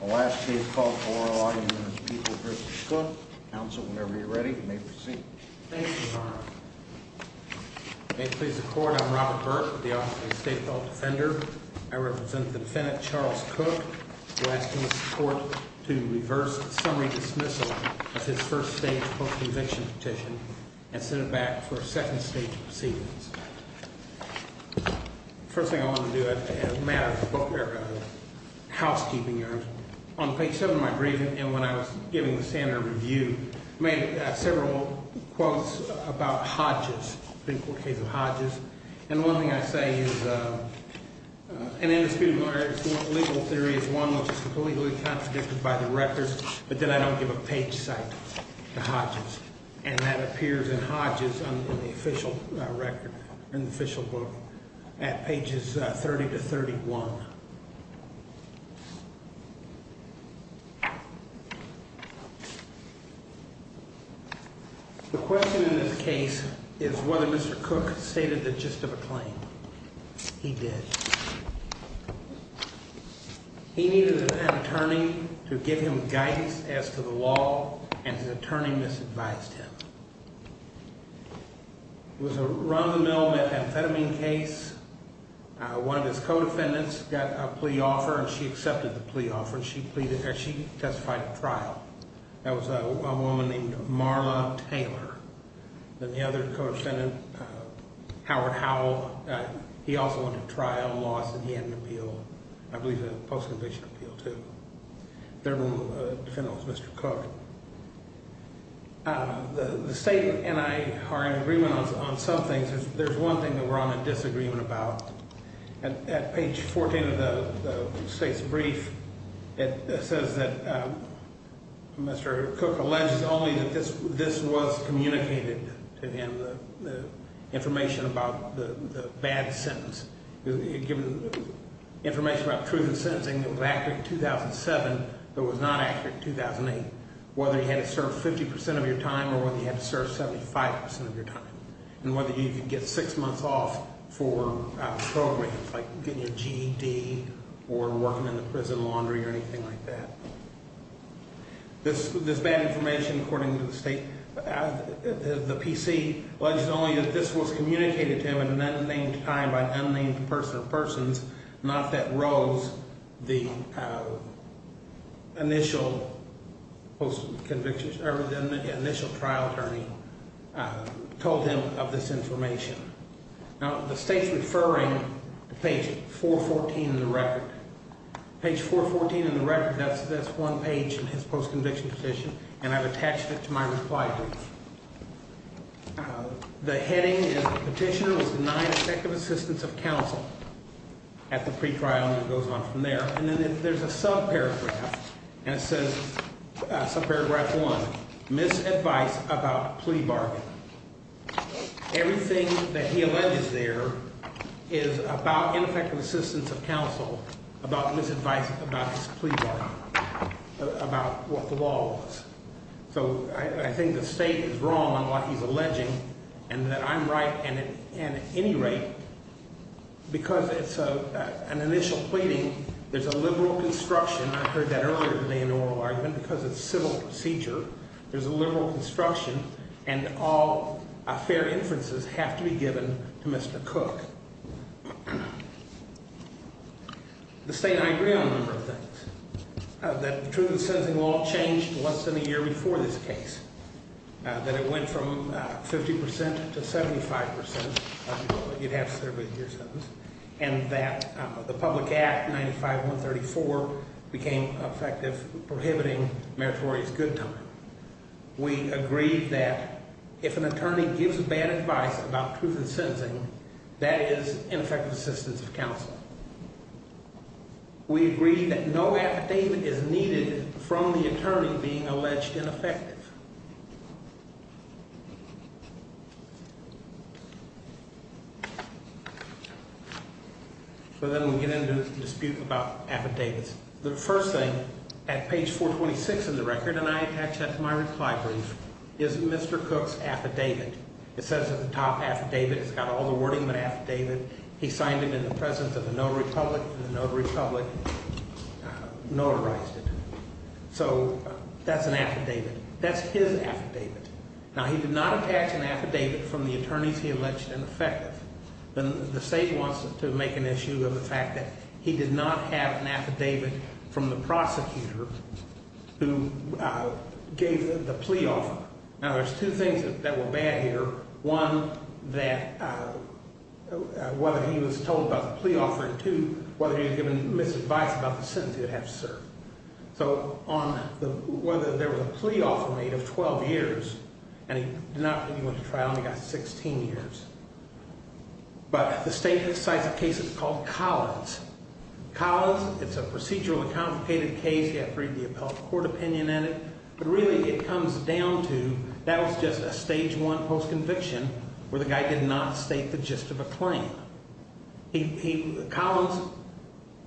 The last case called for oral argument is People v. Cook. Counsel, whenever you're ready, you may proceed. Thank you, Your Honor. May it please the Court, I'm Robert Burke, the Office of the State Court Defender. I represent the defendant, Charles Cook. We're asking the Court to reverse the summary dismissal of his first stage post-conviction petition and send it back for a second stage of proceedings. The first thing I want to do, as a matter of housekeeping errors, on page 7 of my briefing and when I was giving the standard review, I made several quotes about Hodges, the Big Four case of Hodges. And one thing I say is an indisputable error in the legal theory is one which is completely contradicted by the records, but then I don't give a page cite to Hodges. And that appears in Hodges in the official record, in the official book at pages 30 to 31. The question in this case is whether Mr. Cook stated the gist of a claim. He did. He needed an attorney to give him guidance as to the law, and his attorney misadvised him. It was a run-of-the-mill methamphetamine case. One of his co-defendants got a plea offer, and she accepted the plea offer. She testified at trial. That was a woman named Marla Taylor. Then the other co-defendant, Howard Howell, he also went to trial and lost, and he had an appeal, I believe a post-conviction appeal, too. Their defendant was Mr. Cook. The state and I are in agreement on some things. There's one thing that we're on a disagreement about. At page 14 of the state's brief, it says that Mr. Cook alleges only that this was communicated to him, the information about the bad sentence. It gave him information about truth in sentencing that was accurate in 2007 but was not accurate in 2008, whether he had to serve 50 percent of your time or whether he had to serve 75 percent of your time, and whether he could get six months off for programs like getting a GED or working in the prison laundry or anything like that. This bad information, according to the state, the PC alleges only that this was communicated to him at an unnamed time by an unnamed person or persons, not that Rose, the initial trial attorney, told him of this information. Now, the state's referring to page 414 in the record. Page 414 in the record, that's one page in his post-conviction petition, and I've attached it to my reply brief. The heading is the petitioner was denied effective assistance of counsel at the pretrial, and it goes on from there. And then there's a subparagraph, and it says, subparagraph one, misadvice about plea bargain. Everything that he alleges there is about ineffective assistance of counsel, about misadvice about this plea bargain, about what the law was. So I think the state is wrong on what he's alleging and that I'm right. And at any rate, because it's an initial pleading, there's a liberal construction. I heard that earlier today in an oral argument because it's civil procedure. There's a liberal construction, and all fair inferences have to be given to Mr. Cook. The state and I agree on a number of things. That the truth in sentencing law changed once in a year before this case, that it went from 50 percent to 75 percent. You'd have to serve with your sentence. And that the public act 95-134 became effective prohibiting meritorious good time. We agreed that if an attorney gives bad advice about truth in sentencing, that is ineffective assistance of counsel. We agreed that no affidavit is needed from the attorney being alleged ineffective. So then we get into the dispute about affidavits. The first thing at page 426 of the record, and I attach that to my reply brief, is Mr. Cook's affidavit. It says at the top, affidavit. It's got all the wording of an affidavit. He signed it in the presence of the notary public, and the notary public notarized it. So that's an affidavit. That's his affidavit. Now he did not attach an affidavit from the attorneys he alleged ineffective. The state wants to make an issue of the fact that he did not have an affidavit from the prosecutor who gave the plea offer. Now there's two things that were bad here. One, that whether he was told about the plea offer, and two, whether he was given misadvice about the sentence he would have to serve. So on whether there was a plea offer made of 12 years, and he did not go to trial and he got 16 years. But the state cites a case that's called Collins. Collins, it's a procedurally complicated case. You have to read the appellate court opinion in it. But really it comes down to that was just a stage one post-conviction where the guy did not state the gist of a claim. Collins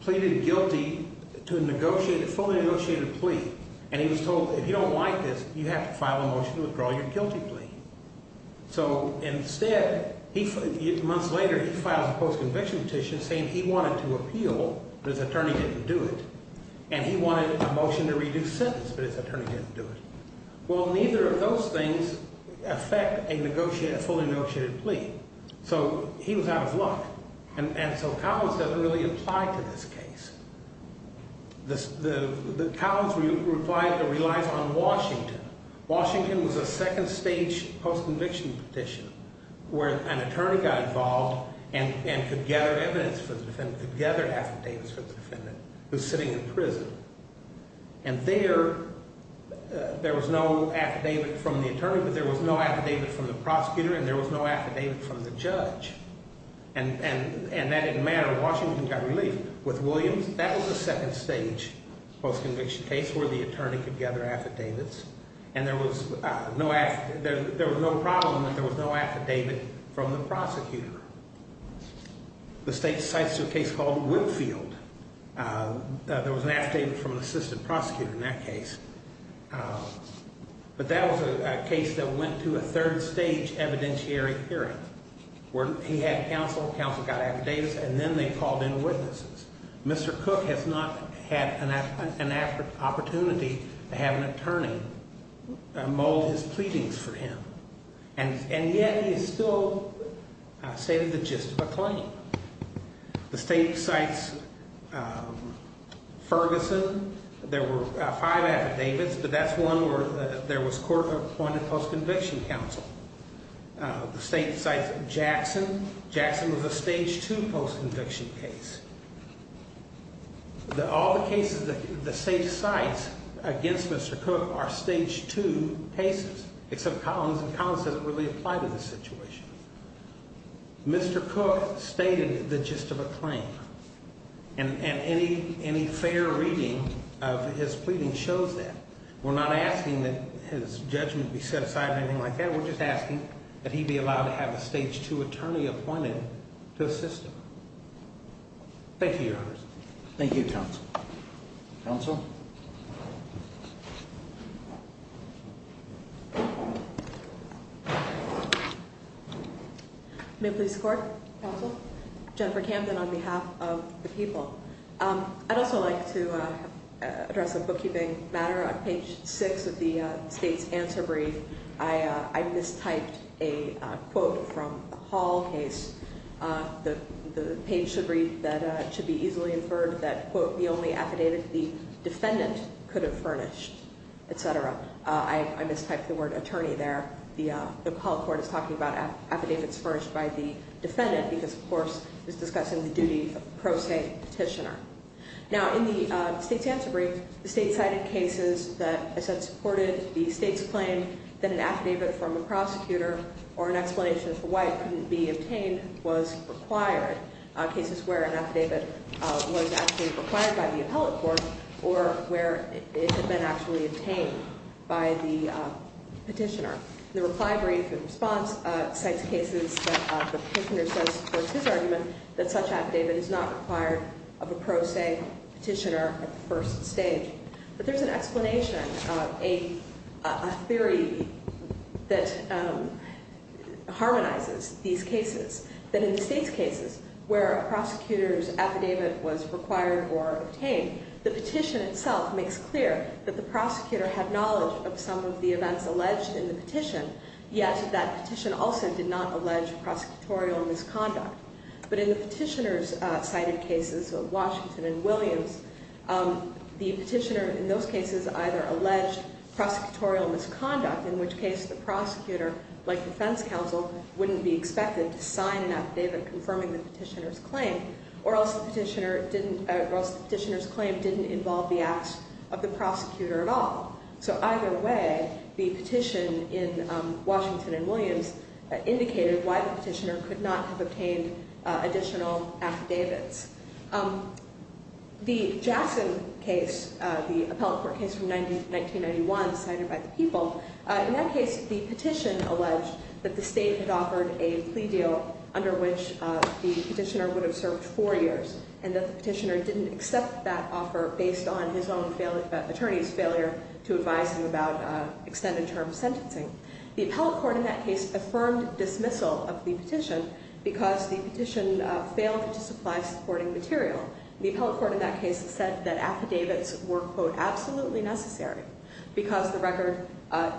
pleaded guilty to a negotiated, fully negotiated plea, and he was told if you don't like this, you have to file a motion to withdraw your guilty plea. So instead, months later, he files a post-conviction petition saying he wanted to appeal, but his attorney didn't do it. And he wanted a motion to reduce sentence, but his attorney didn't do it. Well, neither of those things affect a negotiated, fully negotiated plea. So he was out of luck. And so Collins doesn't really apply to this case. The Collins reply relies on Washington. Washington was a second stage post-conviction petition where an attorney got involved and could gather evidence for the defendant, could gather affidavits for the defendant who's sitting in prison. And there, there was no affidavit from the attorney, but there was no affidavit from the prosecutor, and there was no affidavit from the judge. And that didn't matter. Washington got relief. With Williams, that was a second stage post-conviction case where the attorney could gather affidavits, and there was no, there was no problem that there was no affidavit from the prosecutor. The state cites a case called Winfield. There was an affidavit from an assistant prosecutor in that case. But that was a case that went to a third stage evidentiary hearing where he had counsel, counsel got affidavits, and then they called in witnesses. Mr. Cook has not had an opportunity to have an attorney mold his pleadings for him. And yet he still stated the gist of a claim. The state cites Ferguson. There were five affidavits, but that's one where there was court-appointed post-conviction counsel. The state cites Jackson. Jackson was a stage two post-conviction case. All the cases that the state cites against Mr. Cook are stage two cases, except Collins, and Collins doesn't really apply to this situation. Mr. Cook stated the gist of a claim, and any fair reading of his pleading shows that. We're not asking that his judgment be set aside or anything like that. We're just asking that he be allowed to have a stage two attorney appointed to assist him. Thank you, Your Honors. Thank you, Counsel. Counsel? May it please the Court? Counsel? Jennifer Camden on behalf of the people. I'd also like to address a bookkeeping matter. On page six of the state's answer brief, I mistyped a quote from the Hall case. The page should read that it should be easily inferred that, quote, the only affidavit the defendant could have furnished, et cetera. I mistyped the word attorney there. The appellate court is talking about affidavits furnished by the defendant because, of course, it's discussing the duty of pro se petitioner. Now, in the state's answer brief, the state cited cases that, as I said, supported the state's claim that an affidavit from a prosecutor or an explanation for why it couldn't be obtained was required, cases where an affidavit was actually required by the appellate court or where it had been actually obtained by the petitioner. The reply brief in response cites cases that the petitioner says supports his argument that such affidavit is not required of a pro se petitioner at the first stage. But there's an explanation, a theory that harmonizes these cases. That in the state's cases where a prosecutor's affidavit was required or obtained, the petition itself makes clear that the prosecutor had knowledge of some of the events alleged in the petition, yet that petition also did not allege prosecutorial misconduct. But in the petitioner's cited cases of Washington and Williams, the petitioner in those cases either alleged prosecutorial misconduct, in which case the prosecutor, like defense counsel, wouldn't be expected to sign an affidavit confirming the petitioner's claim, or else the petitioner's claim didn't involve the acts of the prosecutor at all. So either way, the petition in Washington and Williams indicated why the petitioner could not have obtained additional affidavits. The Jackson case, the appellate court case from 1991, cited by the People, in that case the petition alleged that the state had offered a plea deal under which the petitioner would have served four years, and that the petitioner didn't accept that offer based on his own attorney's failure to advise him about extended term sentencing. The appellate court in that case affirmed dismissal of the petition because the petition failed to supply supporting material. The appellate court in that case said that affidavits were, quote, absolutely necessary because the record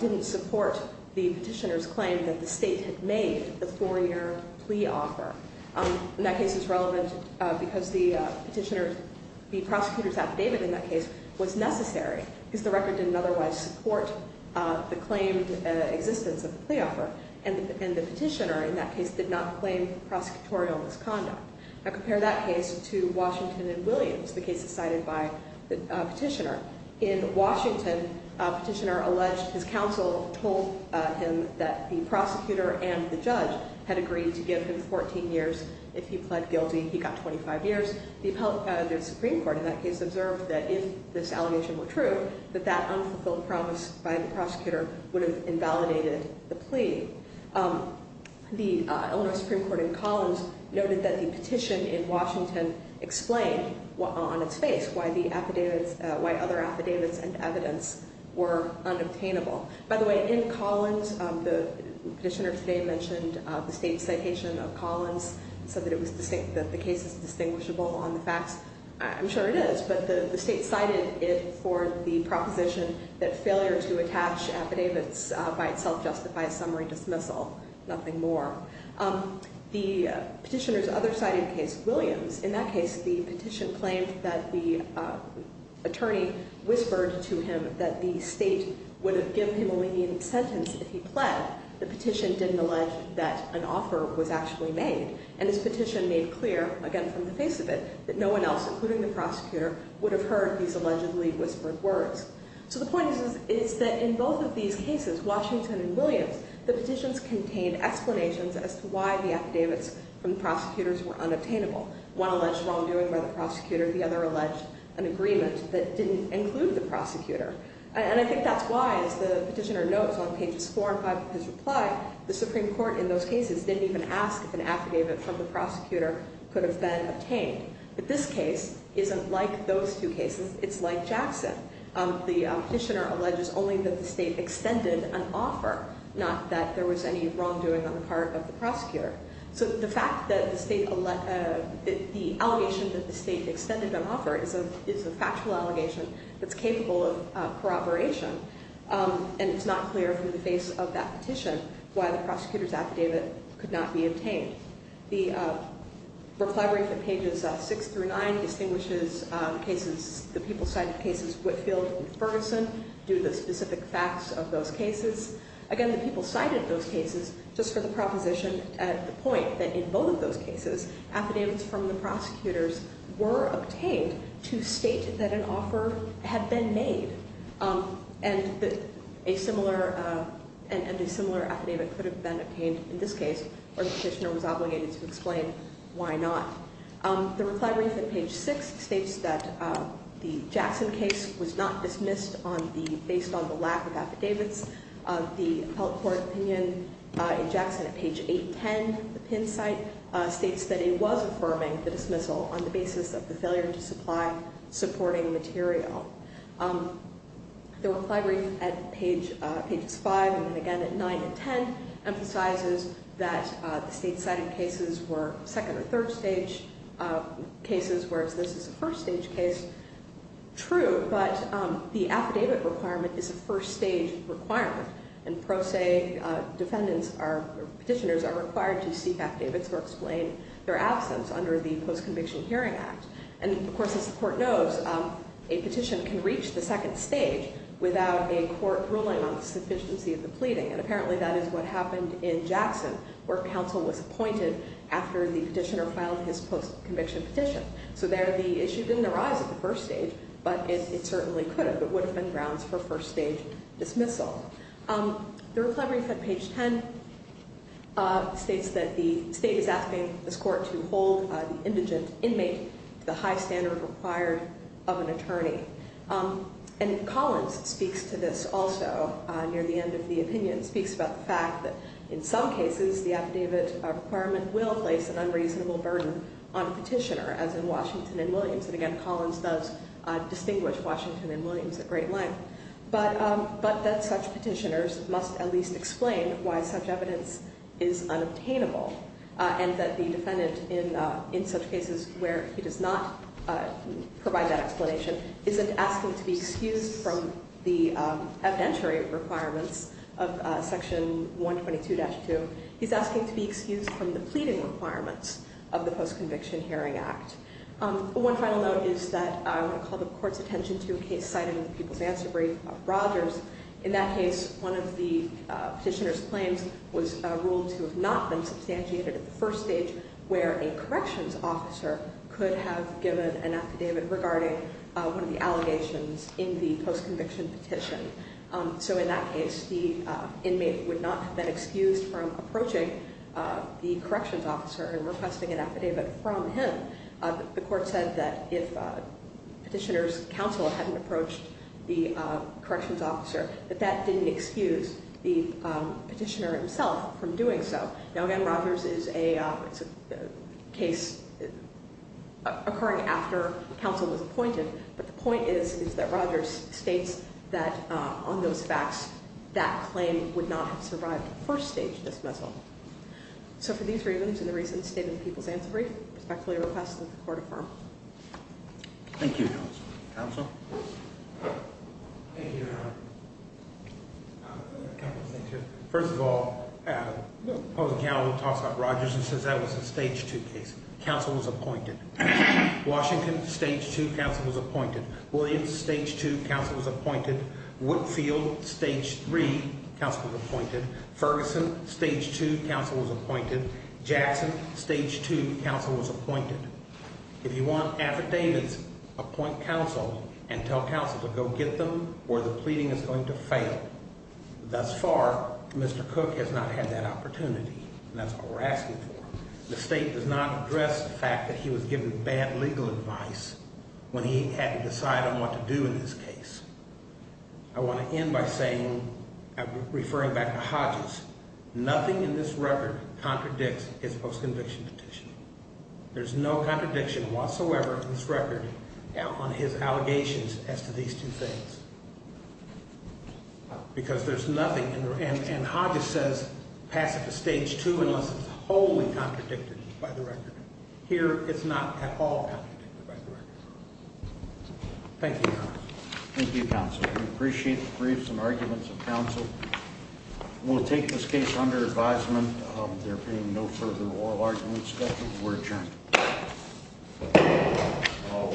didn't support the petitioner's claim that the state had made the four-year plea offer. And that case is relevant because the petitioner, the prosecutor's affidavit in that case was necessary because the record didn't otherwise support the claimed existence of the plea offer, and the petitioner in that case did not claim prosecutorial misconduct. I compare that case to Washington and Williams, the case cited by the petitioner. In Washington, a petitioner alleged his counsel told him that the prosecutor and the judge had agreed to give him 14 years if he pled guilty. He got 25 years. The Supreme Court in that case observed that if this allegation were true, that that unfulfilled promise by the prosecutor would have invalidated the plea. The Illinois Supreme Court in Collins noted that the petition in Washington explained on its face why other affidavits and evidence were unobtainable. By the way, in Collins, the petitioner today mentioned the state citation of Collins, said that the case is distinguishable on the facts. I'm sure it is, but the state cited it for the proposition that failure to attach affidavits by itself justifies summary dismissal, nothing more. The petitioner's other cited case, Williams, in that case, the petition claimed that the attorney whispered to him that the state would have given him only the sentence if he pled. The petition didn't allege that an offer was actually made, and this petition made clear, again, from the face of it, that no one else, including the prosecutor, would have heard these allegedly whispered words. So the point is that in both of these cases, Washington and Williams, the petitions contained explanations as to why the affidavits from the prosecutors were unobtainable. One alleged wrongdoing by the prosecutor. The other alleged an agreement that didn't include the prosecutor. And I think that's why, as the petitioner notes on pages four and five of his reply, the Supreme Court in those cases didn't even ask if an affidavit from the prosecutor could have been obtained. But this case isn't like those two cases. It's like Jackson. The petitioner alleges only that the state extended an offer, not that there was any wrongdoing on the part of the prosecutor. So the fact that the state – the allegation that the state extended an offer is a factual allegation that's capable of corroboration, and it's not clear from the face of that petition why the prosecutor's affidavit could not be obtained. The reply brief at pages six through nine distinguishes cases – the people cited cases Whitfield and Ferguson due to the specific facts of those cases. Again, the people cited those cases just for the proposition at the point that in both of those cases, affidavits from the prosecutors were obtained to state that an offer had been made, and a similar affidavit could have been obtained in this case, or the petitioner was obligated to explain why not. The reply brief at page six states that the Jackson case was not dismissed based on the lack of affidavits. The appellate court opinion in Jackson at page 810 of the PIN site states that it was affirming the dismissal on the basis of the failure to supply supporting material. The reply brief at pages five and then again at nine and ten emphasizes that the state cited cases were second or third stage cases, whereas this is a first stage case. True, but the affidavit requirement is a first stage requirement, and pro se petitioners are required to seek affidavits or explain their absence under the Post-Conviction Hearing Act. And of course, as the court knows, a petition can reach the second stage without a court ruling on the sufficiency of the pleading, and apparently that is what happened in Jackson where counsel was appointed after the petitioner filed his post-conviction petition. So there the issue didn't arise at the first stage, but it certainly could have. It would have been grounds for first stage dismissal. The reply brief at page ten states that the state is asking this court to hold the indigent inmate to the high standard required of an attorney. And Collins speaks to this also near the end of the opinion, speaks about the fact that in some cases the affidavit requirement will place an unreasonable burden on a petitioner, as in Washington and Williams. And again, Collins does distinguish Washington and Williams at great length, but that such petitioners must at least explain why such evidence is unobtainable and that the defendant in such cases where he does not provide that explanation isn't asking to be excused from the evidentiary requirements of section 122-2. He's asking to be excused from the pleading requirements of the Post-Conviction Hearing Act. One final note is that I want to call the court's attention to a case cited in the People's Answer Brief of Rogers. In that case, one of the petitioner's claims was ruled to have not been substantiated at the first stage where a corrections officer could have given an affidavit regarding one of the allegations in the post-conviction petition. So in that case, the inmate would not have been excused from approaching the corrections officer and requesting an affidavit from him. The court said that if petitioner's counsel hadn't approached the corrections officer, that that didn't excuse the petitioner himself from doing so. Now, again, Rogers is a case occurring after counsel was appointed, but the point is that Rogers states that on those facts, that claim would not have survived the first stage dismissal. So for these reasons and the reasons stated in the People's Answer Brief, I respectfully request that the court affirm. Thank you, counsel. Counsel? Thank you, Your Honor. A couple of things here. First of all, the public counsel talks about Rogers and says that was a stage 2 case. Counsel was appointed. Washington, stage 2, counsel was appointed. Williams, stage 2, counsel was appointed. Woodfield, stage 3, counsel was appointed. Ferguson, stage 2, counsel was appointed. Jackson, stage 2, counsel was appointed. If you want affidavits, appoint counsel and tell counsel to go get them or the pleading is going to fail. Thus far, Mr. Cook has not had that opportunity, and that's what we're asking for. The state does not address the fact that he was given bad legal advice when he had to decide on what to do in this case. I want to end by saying, referring back to Hodges, nothing in this record contradicts his post-conviction petition. There's no contradiction whatsoever in this record on his allegations as to these two things because there's nothing. And Hodges says pass it to stage 2 unless it's wholly contradicted by the record. Here, it's not at all contradicted by the record. Thank you, Your Honor. Thank you, counsel. We appreciate the briefs and arguments of counsel. We'll take this case under advisement. There being no further oral arguments, we're adjourned.